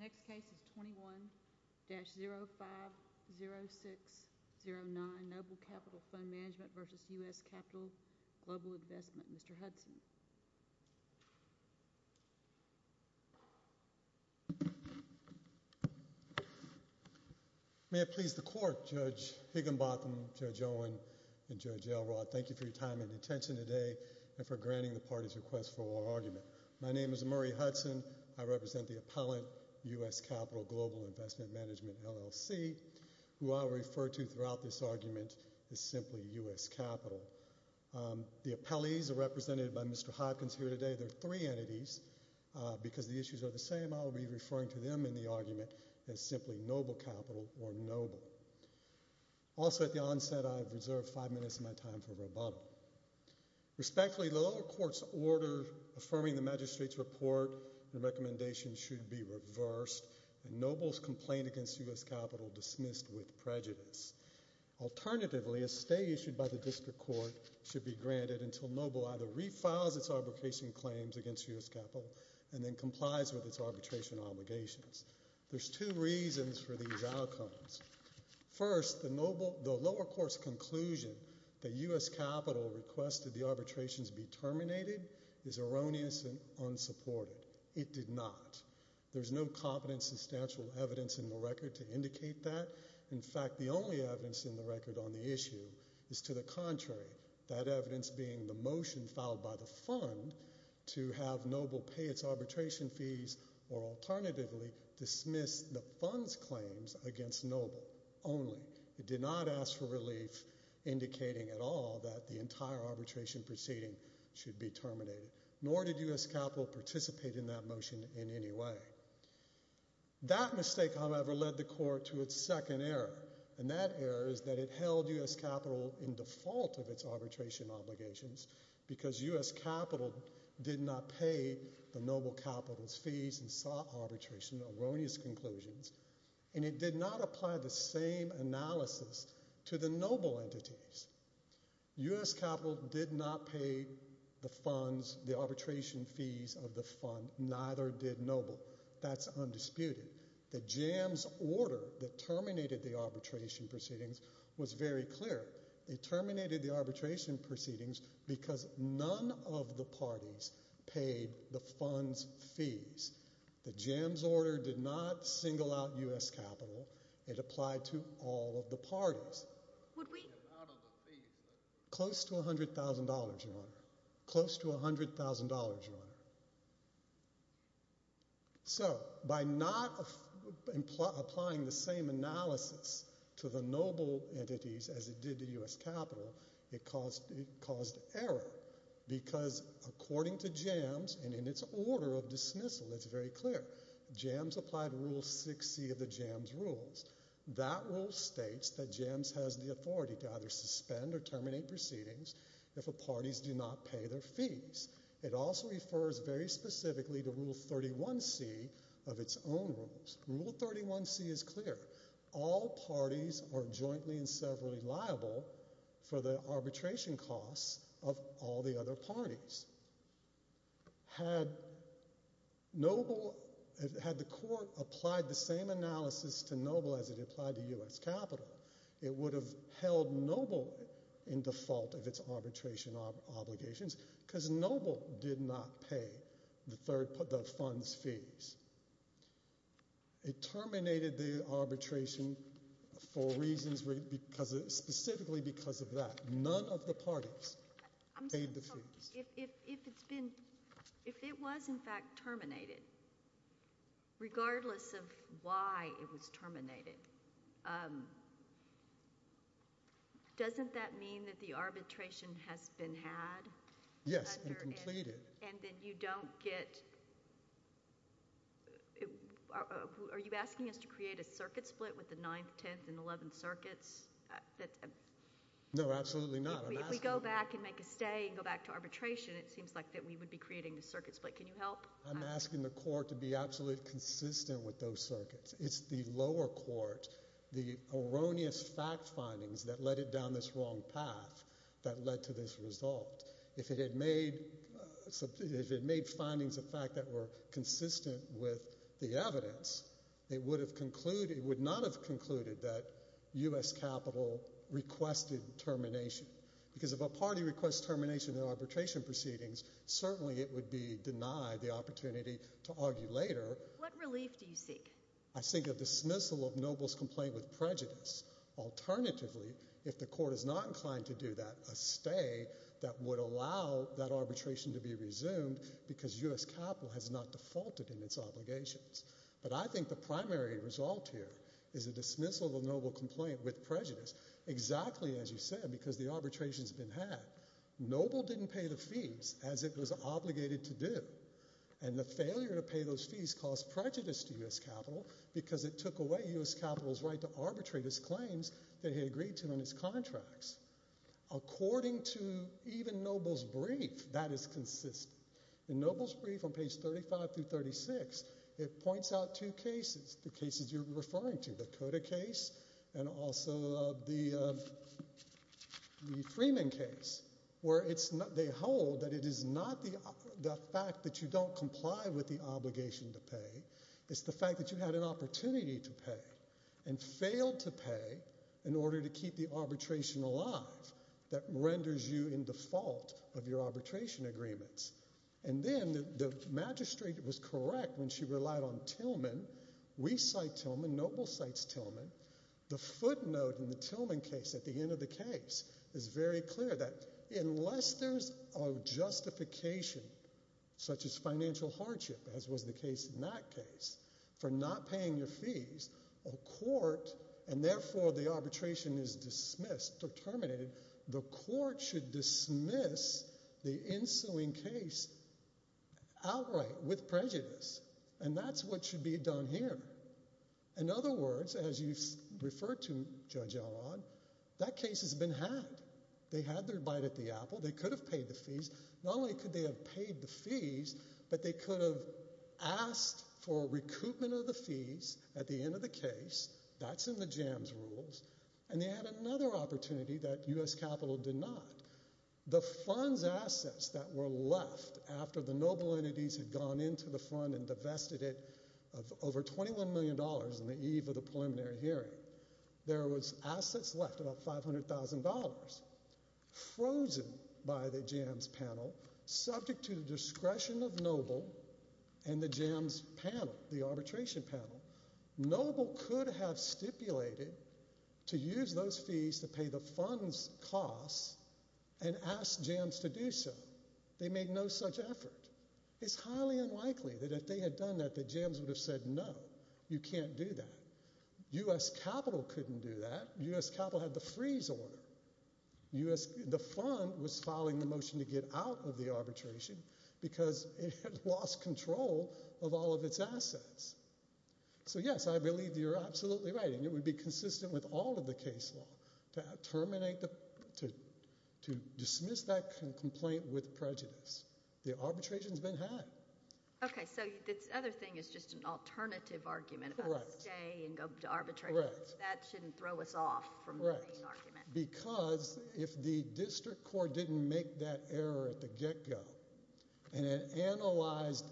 The next case is 21-050609, Noble Capital Fund Management v. U.S. Capital Global Investment. Mr. Hudson. May it please the Court, Judge Higginbotham, Judge Owen, and Judge Elrod, thank you for your time and attention today and for granting the party's request for our argument. My name is Murray Hudson, I represent the appellant, U.S. Capital Global Investment Management, LLC, who I will refer to throughout this argument as simply U.S. Capital. The appellees are represented by Mr. Hopkins here today, there are three entities, because the issues are the same, I will be referring to them in the argument as simply Noble Capital or Noble. Also, at the onset, I have reserved five minutes of my time for rebuttal. Respectfully, the lower court's order affirming the magistrate's report, the recommendation should be reversed, and Noble's complaint against U.S. Capital dismissed with prejudice. Alternatively, a stay issued by the district court should be granted until Noble either refiles its arbitration claims against U.S. Capital and then complies with its arbitration obligations. There are two reasons for these outcomes. First, the lower court's conclusion that U.S. Capital requested the arbitrations be terminated is erroneous and unsupported. It did not. There is no competent substantial evidence in the record to indicate that. In fact, the only evidence in the record on the issue is to the contrary, that evidence being the motion filed by the fund to have Noble pay its arbitration fees or alternatively dismiss the fund's claims against Noble only. It did not ask for relief indicating at all that the entire arbitration proceeding should be terminated, nor did U.S. Capital participate in that motion in any way. That mistake, however, led the court to its second error, and that error is that it held U.S. Capital in default of its arbitration obligations because U.S. Capital did not pay the Noble Capital's fees and sought arbitration, erroneous conclusions, and it did not apply the same analysis to the Noble entities. U.S. Capital did not pay the arbitration fees of the fund. Neither did Noble. That's undisputed. The JAMS order that terminated the arbitration proceedings was very clear. It terminated the arbitration proceedings because none of the parties paid the fund's fees. The JAMS order did not single out U.S. Capital. It applied to all of the parties. Close to $100,000, Your Honor. Close to $100,000, Your Honor. So by not applying the same analysis to the Noble entities as it did to U.S. Capital, it caused error because according to JAMS, and in its order of dismissal, it's very clear. JAMS applied Rule 6c of the JAMS rules. That rule states that JAMS has the authority to either suspend or terminate proceedings if the parties do not pay their fees. It also refers very specifically to Rule 31c of its own rules. Rule 31c is clear. All parties are jointly and severally liable for the arbitration costs of all the other parties. Had Noble, had the court applied the same analysis to Noble as it applied to U.S. Capital, it would have held Noble in default of its arbitration obligations because Noble did not pay the fund's fees. It terminated the arbitration for reasons, specifically because of that. None of the parties paid the fees. If it's been, if it was in fact terminated, regardless of why it was terminated, doesn't that mean that the arbitration has been had? Yes, and completed. And then you don't get, are you asking us to create a circuit split with the 9th, 10th, and 11th circuits? No, absolutely not. If we go back and make a stay and go back to arbitration, it seems like that we would be creating a circuit split. Can you help? I'm asking the court to be absolutely consistent with those circuits. It's the lower court, the erroneous fact findings that led it down this wrong path that led to this result. If it had made, if it had made findings of fact that were consistent with the evidence, it would have concluded, it would not have concluded that U.S. capital requested termination. Because if a party requests termination in arbitration proceedings, certainly it would be denied the opportunity to argue later. What relief do you seek? I think of the dismissal of Noble's complaint with prejudice. Alternatively, if the court is not inclined to do that, a stay that would allow that arbitration to be resumed because U.S. capital has not defaulted in its obligations. But I think the primary result here is a dismissal of the Noble complaint with prejudice, exactly as you said, because the arbitration has been had. Noble didn't pay the fees as it was obligated to do. And the failure to pay those fees caused prejudice to U.S. capital because it took away U.S. capital's right to arbitrate his claims that he agreed to in his contracts. According to even Noble's brief, that is consistent. In Noble's brief on page 35 through 36, it points out two cases, the cases you're referring to, the Cota case and also the Freeman case, where they hold that it is not the fact that you don't comply with the obligation to pay, it's the fact that you had an opportunity to pay and failed to pay in order to keep the arbitration alive that renders you in your arbitration agreements. And then the magistrate was correct when she relied on Tillman. We cite Tillman. Noble cites Tillman. The footnote in the Tillman case at the end of the case is very clear that unless there's a justification such as financial hardship, as was the case in that case, for not paying your fees, a court, and therefore the arbitration is dismissed or terminated, the court should dismiss the ensuing case outright with prejudice. And that's what should be done here. In other words, as you've referred to, Judge Elrod, that case has been had. They had their bite at the apple. They could have paid the fees. Not only could they have paid the fees, but they could have asked for recoupment of the fees at the end of the case. That's in the jams rules. And they had another opportunity that U.S. Capitol did not. The fund's assets that were left after the noble entities had gone into the fund and divested it of over $21 million in the eve of the preliminary hearing, there was assets left, about $500,000, frozen by the jams panel, subject to the discretion of noble and the jams panel, the arbitration panel. Noble could have stipulated to use those fees to pay the fund's costs and ask jams to do so. They made no such effort. It's highly unlikely that if they had done that, that jams would have said, no, you can't do that. U.S. Capitol couldn't do that. U.S. Capitol had the freeze order. The fund was filing the motion to get out of the arbitration because it had lost control of all of its assets. So, yes, I believe you're absolutely right, and it would be consistent with all of the case law to terminate the, to dismiss that complaint with prejudice. The arbitration's been had. Okay. So, the other thing is just an alternative argument about stay and go to arbitration. Correct. That shouldn't throw us off from the main argument. Because if the district court didn't make that error at the get-go and it analyzed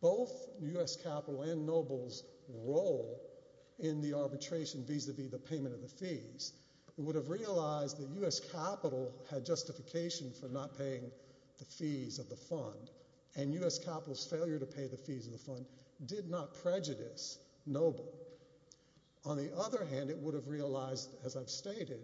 both U.S. Capitol and noble's role in the arbitration vis-a-vis the payment of the fees, it would have realized that U.S. Capitol had justification for not paying the fees of the fund, and U.S. Capitol's failure to pay the fees of the fund did not prejudice noble. On the other hand, it would have realized, as I've stated,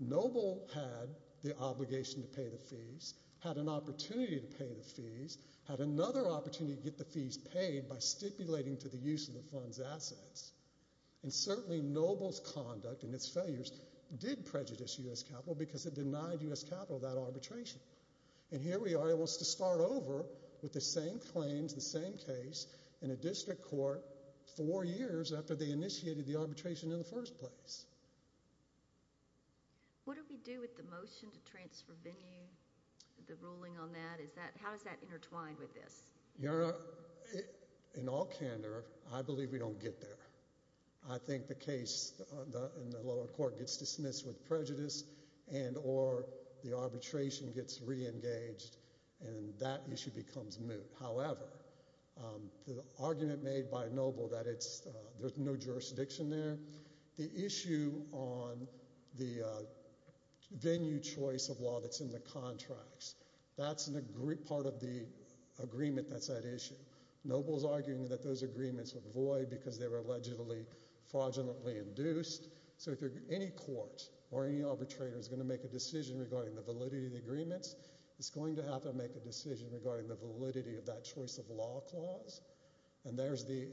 noble had the obligation to pay the fees, had an opportunity to pay the fees, had another opportunity to get the fees paid by stipulating to the use of the fund's assets. And certainly noble's conduct and its failures did prejudice U.S. Capitol because it denied U.S. Capitol that arbitration. And here we are, it wants to start over with the same claims, the same case in a district court four years after they initiated the arbitration in the first place. What do we do with the motion to transfer venue, the ruling on that, how is that intertwined with this? Your Honor, in all candor, I believe we don't get there. I think the case in the lower court gets dismissed with prejudice and or the arbitration gets reengaged and that issue becomes moot. However, the argument made by noble that there's no jurisdiction there, the issue on the venue choice of law that's in the contracts, that's part of the agreement that's at issue. Noble's arguing that those agreements were void because they were allegedly fraudulently induced so if any court or any arbitrator is going to make a decision regarding the that choice of law clause and there's the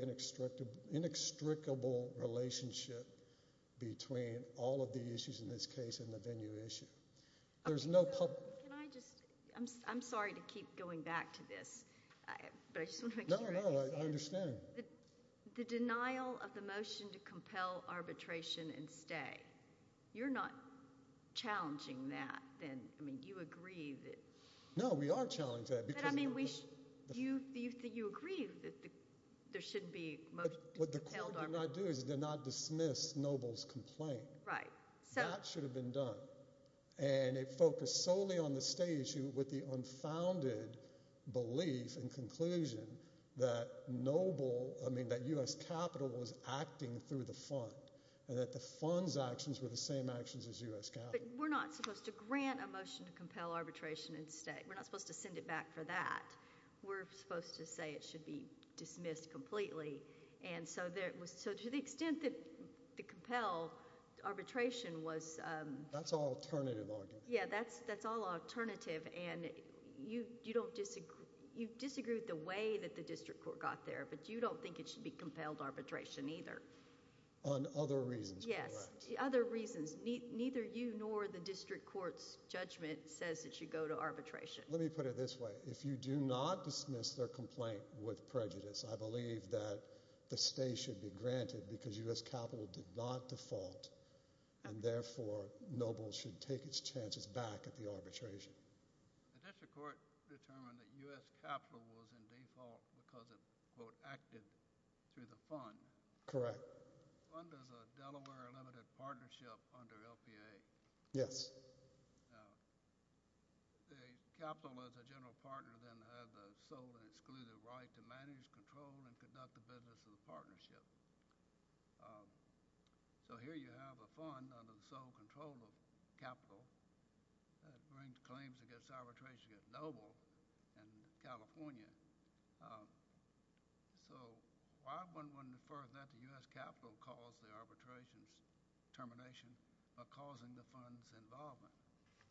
inextricable relationship between all of the issues in this case and the venue issue. There's no public... Can I just... I'm sorry to keep going back to this, but I just want to make sure I understand. No, no. I understand. The denial of the motion to compel arbitration and stay, you're not challenging that then. I mean, you agree that... No, we are challenging that because... But I mean, you agree that there shouldn't be a motion to compel arbitration... What the court did not do is it did not dismiss Noble's complaint. Right. That should have been done and it focused solely on the stay issue with the unfounded belief and conclusion that noble, I mean, that U.S. capital was acting through the fund and that the fund's actions were the same actions as U.S. capital. We're not supposed to grant a motion to compel arbitration and stay. We're not supposed to send it back for that. We're supposed to say it should be dismissed completely. And so to the extent that the compel arbitration was... That's all alternative argument. Yeah, that's all alternative and you disagree with the way that the district court got there, but you don't think it should be compelled arbitration either. On other reasons, correct? Yes, other reasons. Neither you nor the district court's judgment says it should go to arbitration. Let me put it this way. If you do not dismiss their complaint with prejudice, I believe that the stay should be granted because U.S. capital did not default and therefore Noble should take its chances back at the arbitration. The district court determined that U.S. capital was in default because it, quote, acted through the fund. Correct. The fund is a Delaware Limited Partnership under LPA. Yes. Now, the capital as a general partner then has a sole and excluded right to manage, control, and conduct the business of the partnership. So here you have a fund under the sole control of capital that brings claims against arbitration against Noble in California. So why wouldn't one defer that to U.S. capital cause the arbitration termination by causing the fund's involvement?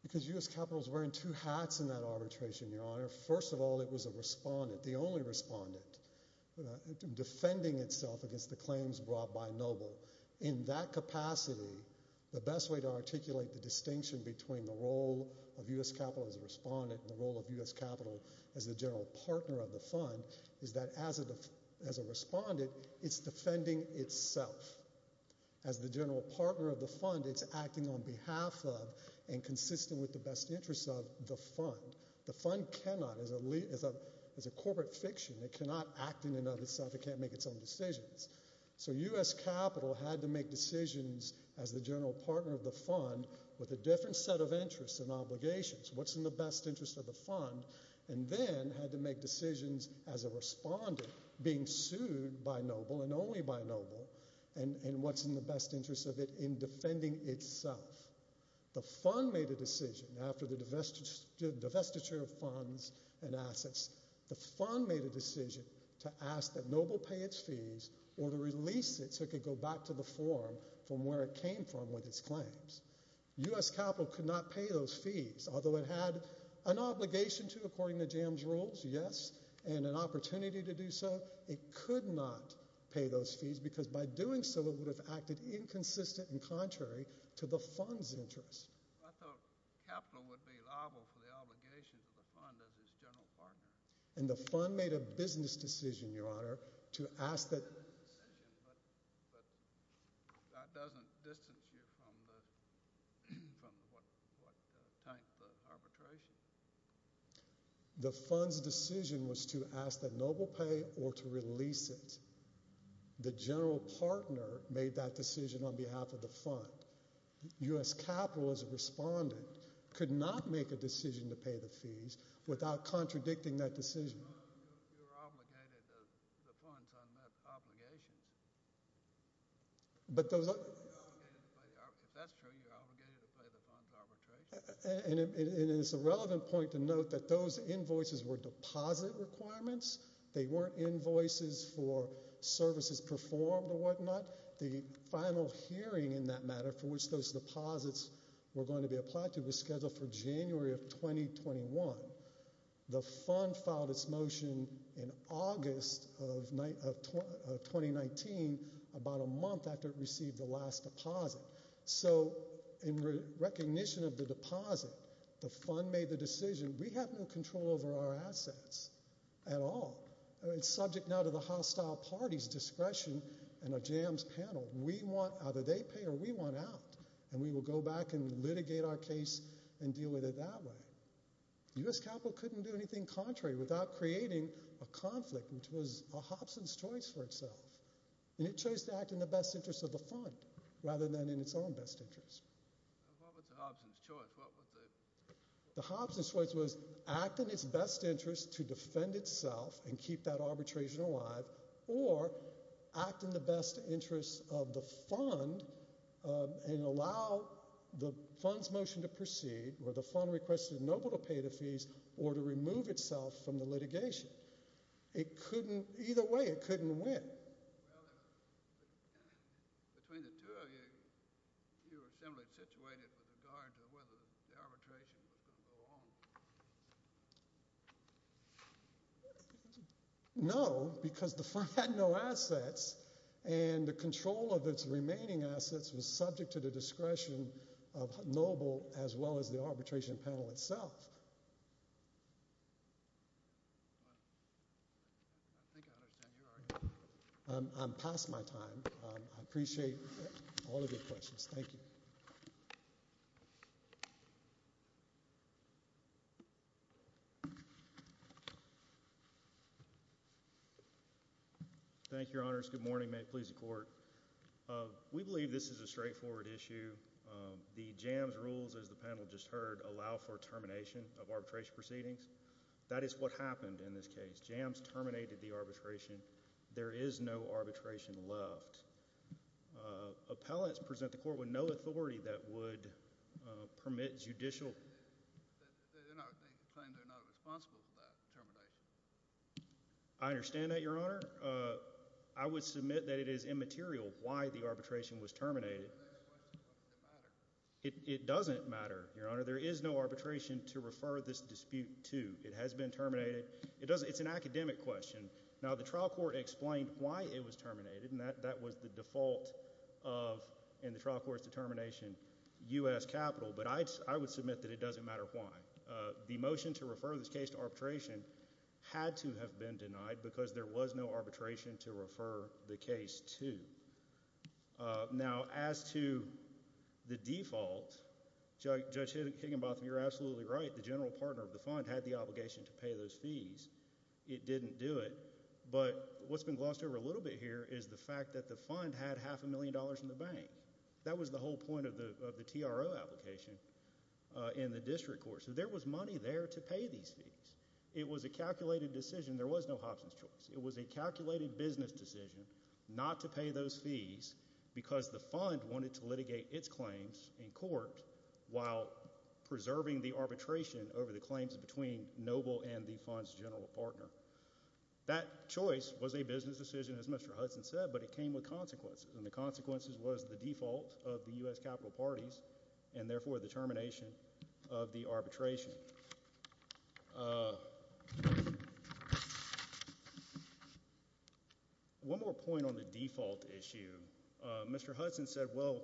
Because U.S. capital is wearing two hats in that arbitration, Your Honor. First of all, it was a respondent, the only respondent, defending itself against the claims brought by Noble. In that capacity, the best way to articulate the distinction between the role of U.S. capital as a respondent and the role of U.S. capital as the general partner of the fund is that as a respondent, it's defending itself. As the general partner of the fund, it's acting on behalf of and consistent with the best interests of the fund. The fund cannot, as a corporate fiction, it cannot act in and of itself. It can't make its own decisions. So U.S. capital had to make decisions as the general partner of the fund with a different set of interests and obligations. What's in the best interest of the fund? And then had to make decisions as a respondent, being sued by Noble and only by Noble, and what's in the best interest of it in defending itself. The fund made a decision after the divestiture of funds and assets, the fund made a decision to ask that Noble pay its fees or to release it so it could go back to the forum from where it came from with its claims. U.S. capital could not pay those fees, although it had an obligation to according to JAMS rules, yes, and an opportunity to do so. It could not pay those fees because by doing so, it would have acted inconsistent and contrary to the fund's interest. I thought capital would be liable for the obligations of the fund as its general partner. And the fund made a business decision, Your Honor, to ask that. It made a business decision, but that doesn't distance you from what tanked the arbitration. The fund's decision was to ask that Noble pay or to release it. The general partner made that decision on behalf of the fund. U.S. capital as a respondent could not make a decision to pay the fees without contradicting that decision. You're obligated to the fund's unmet obligations. If that's true, you're obligated to pay the fund's arbitration. And it's a relevant point to note that those invoices were deposit requirements. They weren't invoices for services performed or whatnot. The final hearing in that matter for which those deposits were going to be applied to was scheduled for January of 2021. The fund filed its motion in August of 2019, about a month after it received the last deposit. So in recognition of the deposit, the fund made the decision, we have no control over our assets at all. It's subject now to the hostile party's discretion and a jams panel. We want either they pay or we want out. And we will go back and litigate our case and deal with it that way. U.S. capital couldn't do anything contrary without creating a conflict which was a Hobson's choice for itself. And it chose to act in the best interest of the fund rather than in its own best interest. What was a Hobson's choice? The Hobson's choice was act in its best interest to defend itself and keep that arbitration alive or act in the best interest of the fund and allow the fund's motion to proceed where the fund requested Noble to pay the fees or to remove itself from the litigation. Either way, it couldn't win. Between the two of you, you were similarly situated with regard to whether the arbitration was going to go on. No, because the fund had no assets and the control of its remaining assets was subject to the discretion of Noble as well as the arbitration panel itself. I think I understand your argument. I'm past my time. I appreciate all of your questions. Thank you. Thank you, Your Honors. Good morning. May it please the Court. We believe this is a straightforward issue. The JAMS rules, as the panel just heard, allow for termination of arbitration proceedings. That is what happened in this case. JAMS terminated the arbitration. There is no arbitration left. Appellants present the Court with no authority that would permit judicial... They claim they're not responsible for that termination. I understand that, Your Honor. I would submit that it is immaterial why the arbitration was terminated. It doesn't matter, Your Honor. There is no arbitration to refer this dispute to. It has been terminated. It's an academic question. Now, the trial court explained why it was terminated. That was the default of, in the trial court's determination, U.S. capital. But I would submit that it doesn't matter why. The motion to refer this case to arbitration had to have been denied because there was no arbitration to refer the case to. Now, as to the default, Judge Higginbotham, you're absolutely right. The general partner of the fund had the obligation to pay those fees. It didn't do it. But what's been glossed over a little bit here is the fact that the fund had half a million dollars in the bank. That was the whole point of the TRO application in the district court. So there was money there to pay these fees. It was a calculated decision. There was no Hobson's choice. It was a calculated business decision not to pay those fees because the fund wanted to litigate its claims in court while preserving the arbitration over the claims between Noble and the fund's general partner. That choice was a business decision, as Mr. Hudson said, but it came with consequences. And the consequences was the default of the U.S. capital parties and, therefore, the termination of the arbitration. One more point on the default issue. Mr. Hudson said, well,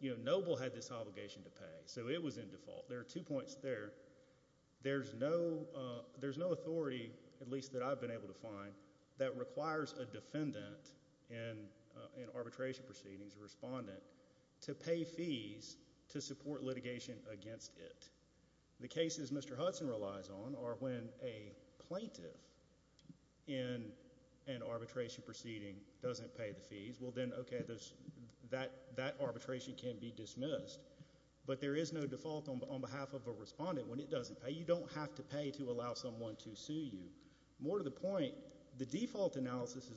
you know, Noble had this obligation to pay, so it was in default. There are two points there. There's no authority, at least that I've been able to find, that requires a defendant in arbitration proceedings, a respondent, to pay fees to support litigation against it. The cases Mr. Hudson relies on are when a plaintiff in an arbitration proceeding doesn't pay the fees. Well, then, okay, that arbitration can be dismissed. But there is no default on behalf of a respondent when it doesn't pay. You don't have to pay to allow someone to sue you. More to the point, the default analysis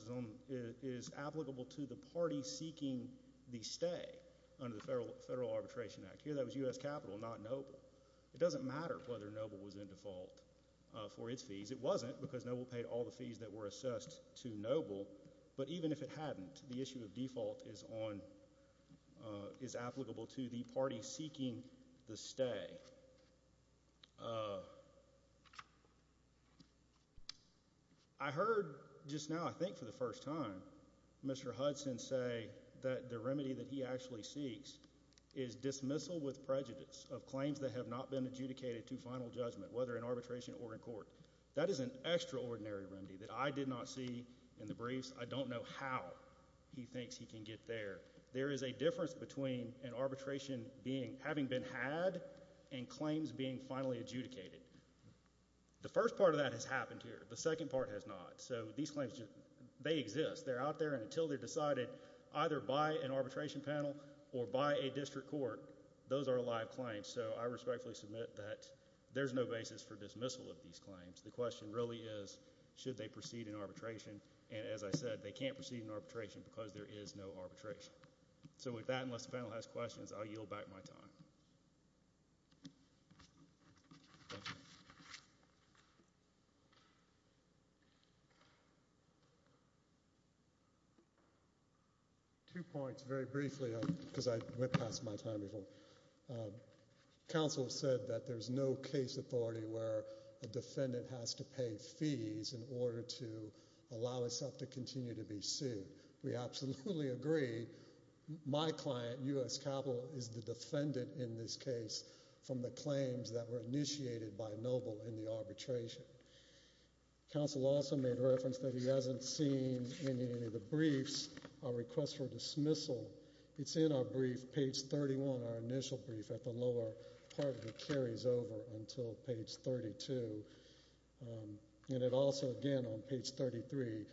is applicable to the party seeking the stay under the Federal Arbitration Act. Here that was U.S. capital, not Noble. It doesn't matter whether Noble was in default for its fees. It wasn't, because Noble paid all the fees that were assessed to Noble. But even if it hadn't, the issue of default is on, is applicable to the party seeking the stay. I heard just now, I think for the first time, Mr. Hudson say that the remedy that he actually seeks is dismissal with prejudice of claims that have not been adjudicated to final judgment, whether in arbitration or in court. That is an extraordinary remedy that I did not see in the briefs. I don't know how he thinks he can get there. There is a difference between an arbitration being, having been had, and claims being finally adjudicated. The first part of that has happened here. The second part has not. So these claims, they exist. They're out there, and until they're decided either by an arbitration panel or by a district court, those are live claims. So I respectfully submit that there's no basis for dismissal of these claims. The question really is, should they proceed in arbitration? And as I said, they can't proceed in arbitration because there is no arbitration. So with that, unless the panel has questions, I'll yield back my time. Thank you. Two points, very briefly, because I went past my time before. Counsel said that there's no case authority where a defendant has to pay fees in order to allow himself to continue to be sued. We absolutely agree. My client, U.S. Capitol, is the defendant in this case from the claims that were initiated by Noble in the arbitration. Counsel also made reference that he hasn't seen any of the briefs, a request for dismissal. It's in our brief, page 31, our initial brief, at the lower part that carries over until page 32. And it also, again, on page 33,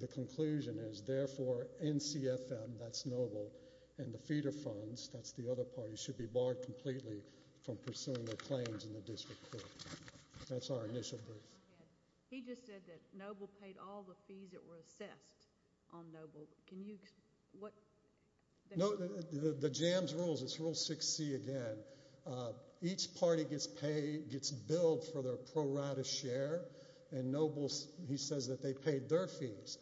the conclusion is, therefore, NCFM, that's Noble, and the feeder funds, that's the other party, should be barred completely from pursuing their claims in the district court. That's our initial brief. He just said that Noble paid all the fees that were assessed on Noble. Can you, what? No, the JAMS rules, it's Rule 6C again. Each party gets paid, gets billed for their pro rata share, and Noble, he says that they paid their fees.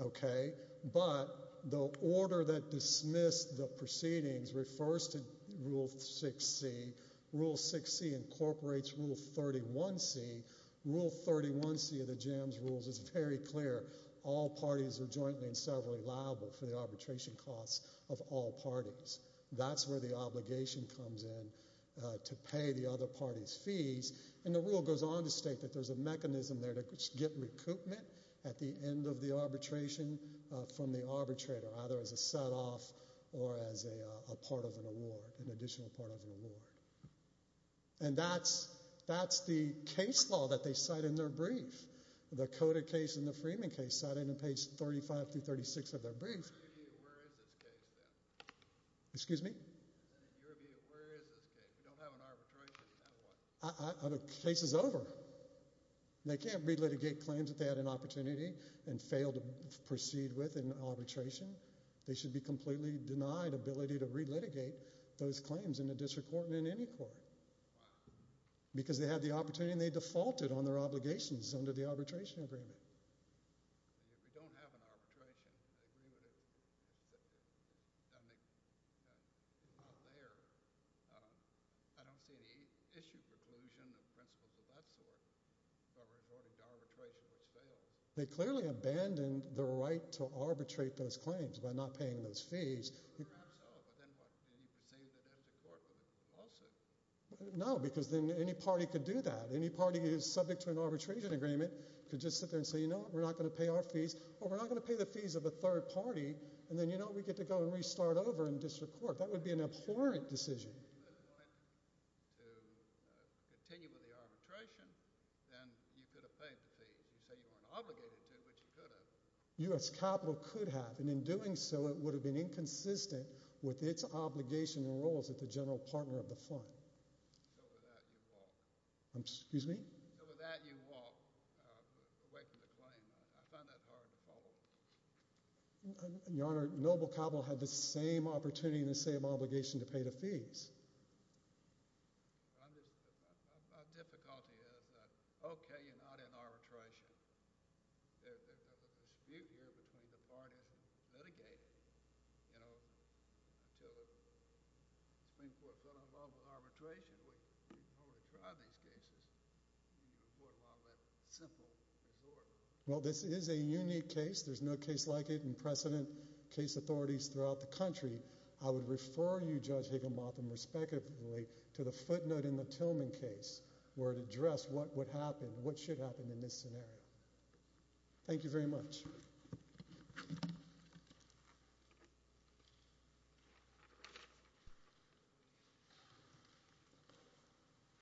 Okay, but the order that dismissed the proceedings refers to Rule 6C. Rule 6C incorporates Rule 31C. Rule 31C of the JAMS rules is very clear. All parties are jointly and severally liable for the arbitration costs of all parties. That's where the obligation comes in to pay the other party's fees. And the rule goes on to state that there's a mechanism there to get recoupment at the end of the arbitration from the arbitrator, either as a set off or as a part of an award, an additional part of an award. And that's the case law that they cite in their brief. The Coda case and the Freeman case cite it in page 35 through 36 of their brief. Excuse me? In your view, where is this case? We don't have an arbitration in that one. The case is over. They can't relitigate claims that they had an opportunity and failed to proceed with in arbitration. They should be completely denied ability to relitigate those claims in a district court and in any court. Why? Because they had the opportunity and they defaulted on their obligations under the arbitration agreement. If we don't have an arbitration, I agree with it. It's not there. I don't see any issue preclusion of principles of that sort by referring to arbitration, which fails. They clearly abandoned the right to arbitrate those claims by not paying those fees. Perhaps so, but then what? Did he proceed it as a court with a compulsive? No, because then any party could do that. Any party who's subject to an arbitration agreement could just sit there and say, you know what? We're not going to pay our fees. Or we're not going to pay the fees of a third party and then, you know what? We get to go and restart over in district court. That would be an abhorrent decision. If it went to continue with the arbitration, then you could have paid the fees. You say you weren't obligated to, which you could have. U.S. capital could have, and in doing so, it would have been inconsistent with its obligation and roles at the general partner of the fund. So with that, you walk. Excuse me? So with that, you walk away from the claim. I find that hard to follow. Your Honor, Noble Cabell had the same opportunity and the same obligation to pay the fees. My difficulty is that, OK, you're not in arbitration. The dispute here between the parties is litigated, you know, until the Supreme Court fell in love with arbitration. We've probably tried these cases. You report a lot of that simple resort. Well, this is a unique case. There's no case like it in precedent case authorities throughout the country. I would refer you, Judge Higginbotham, respectively to the footnote in the Tillman case where it addressed what would happen, what should happen in this scenario. Thank you very much.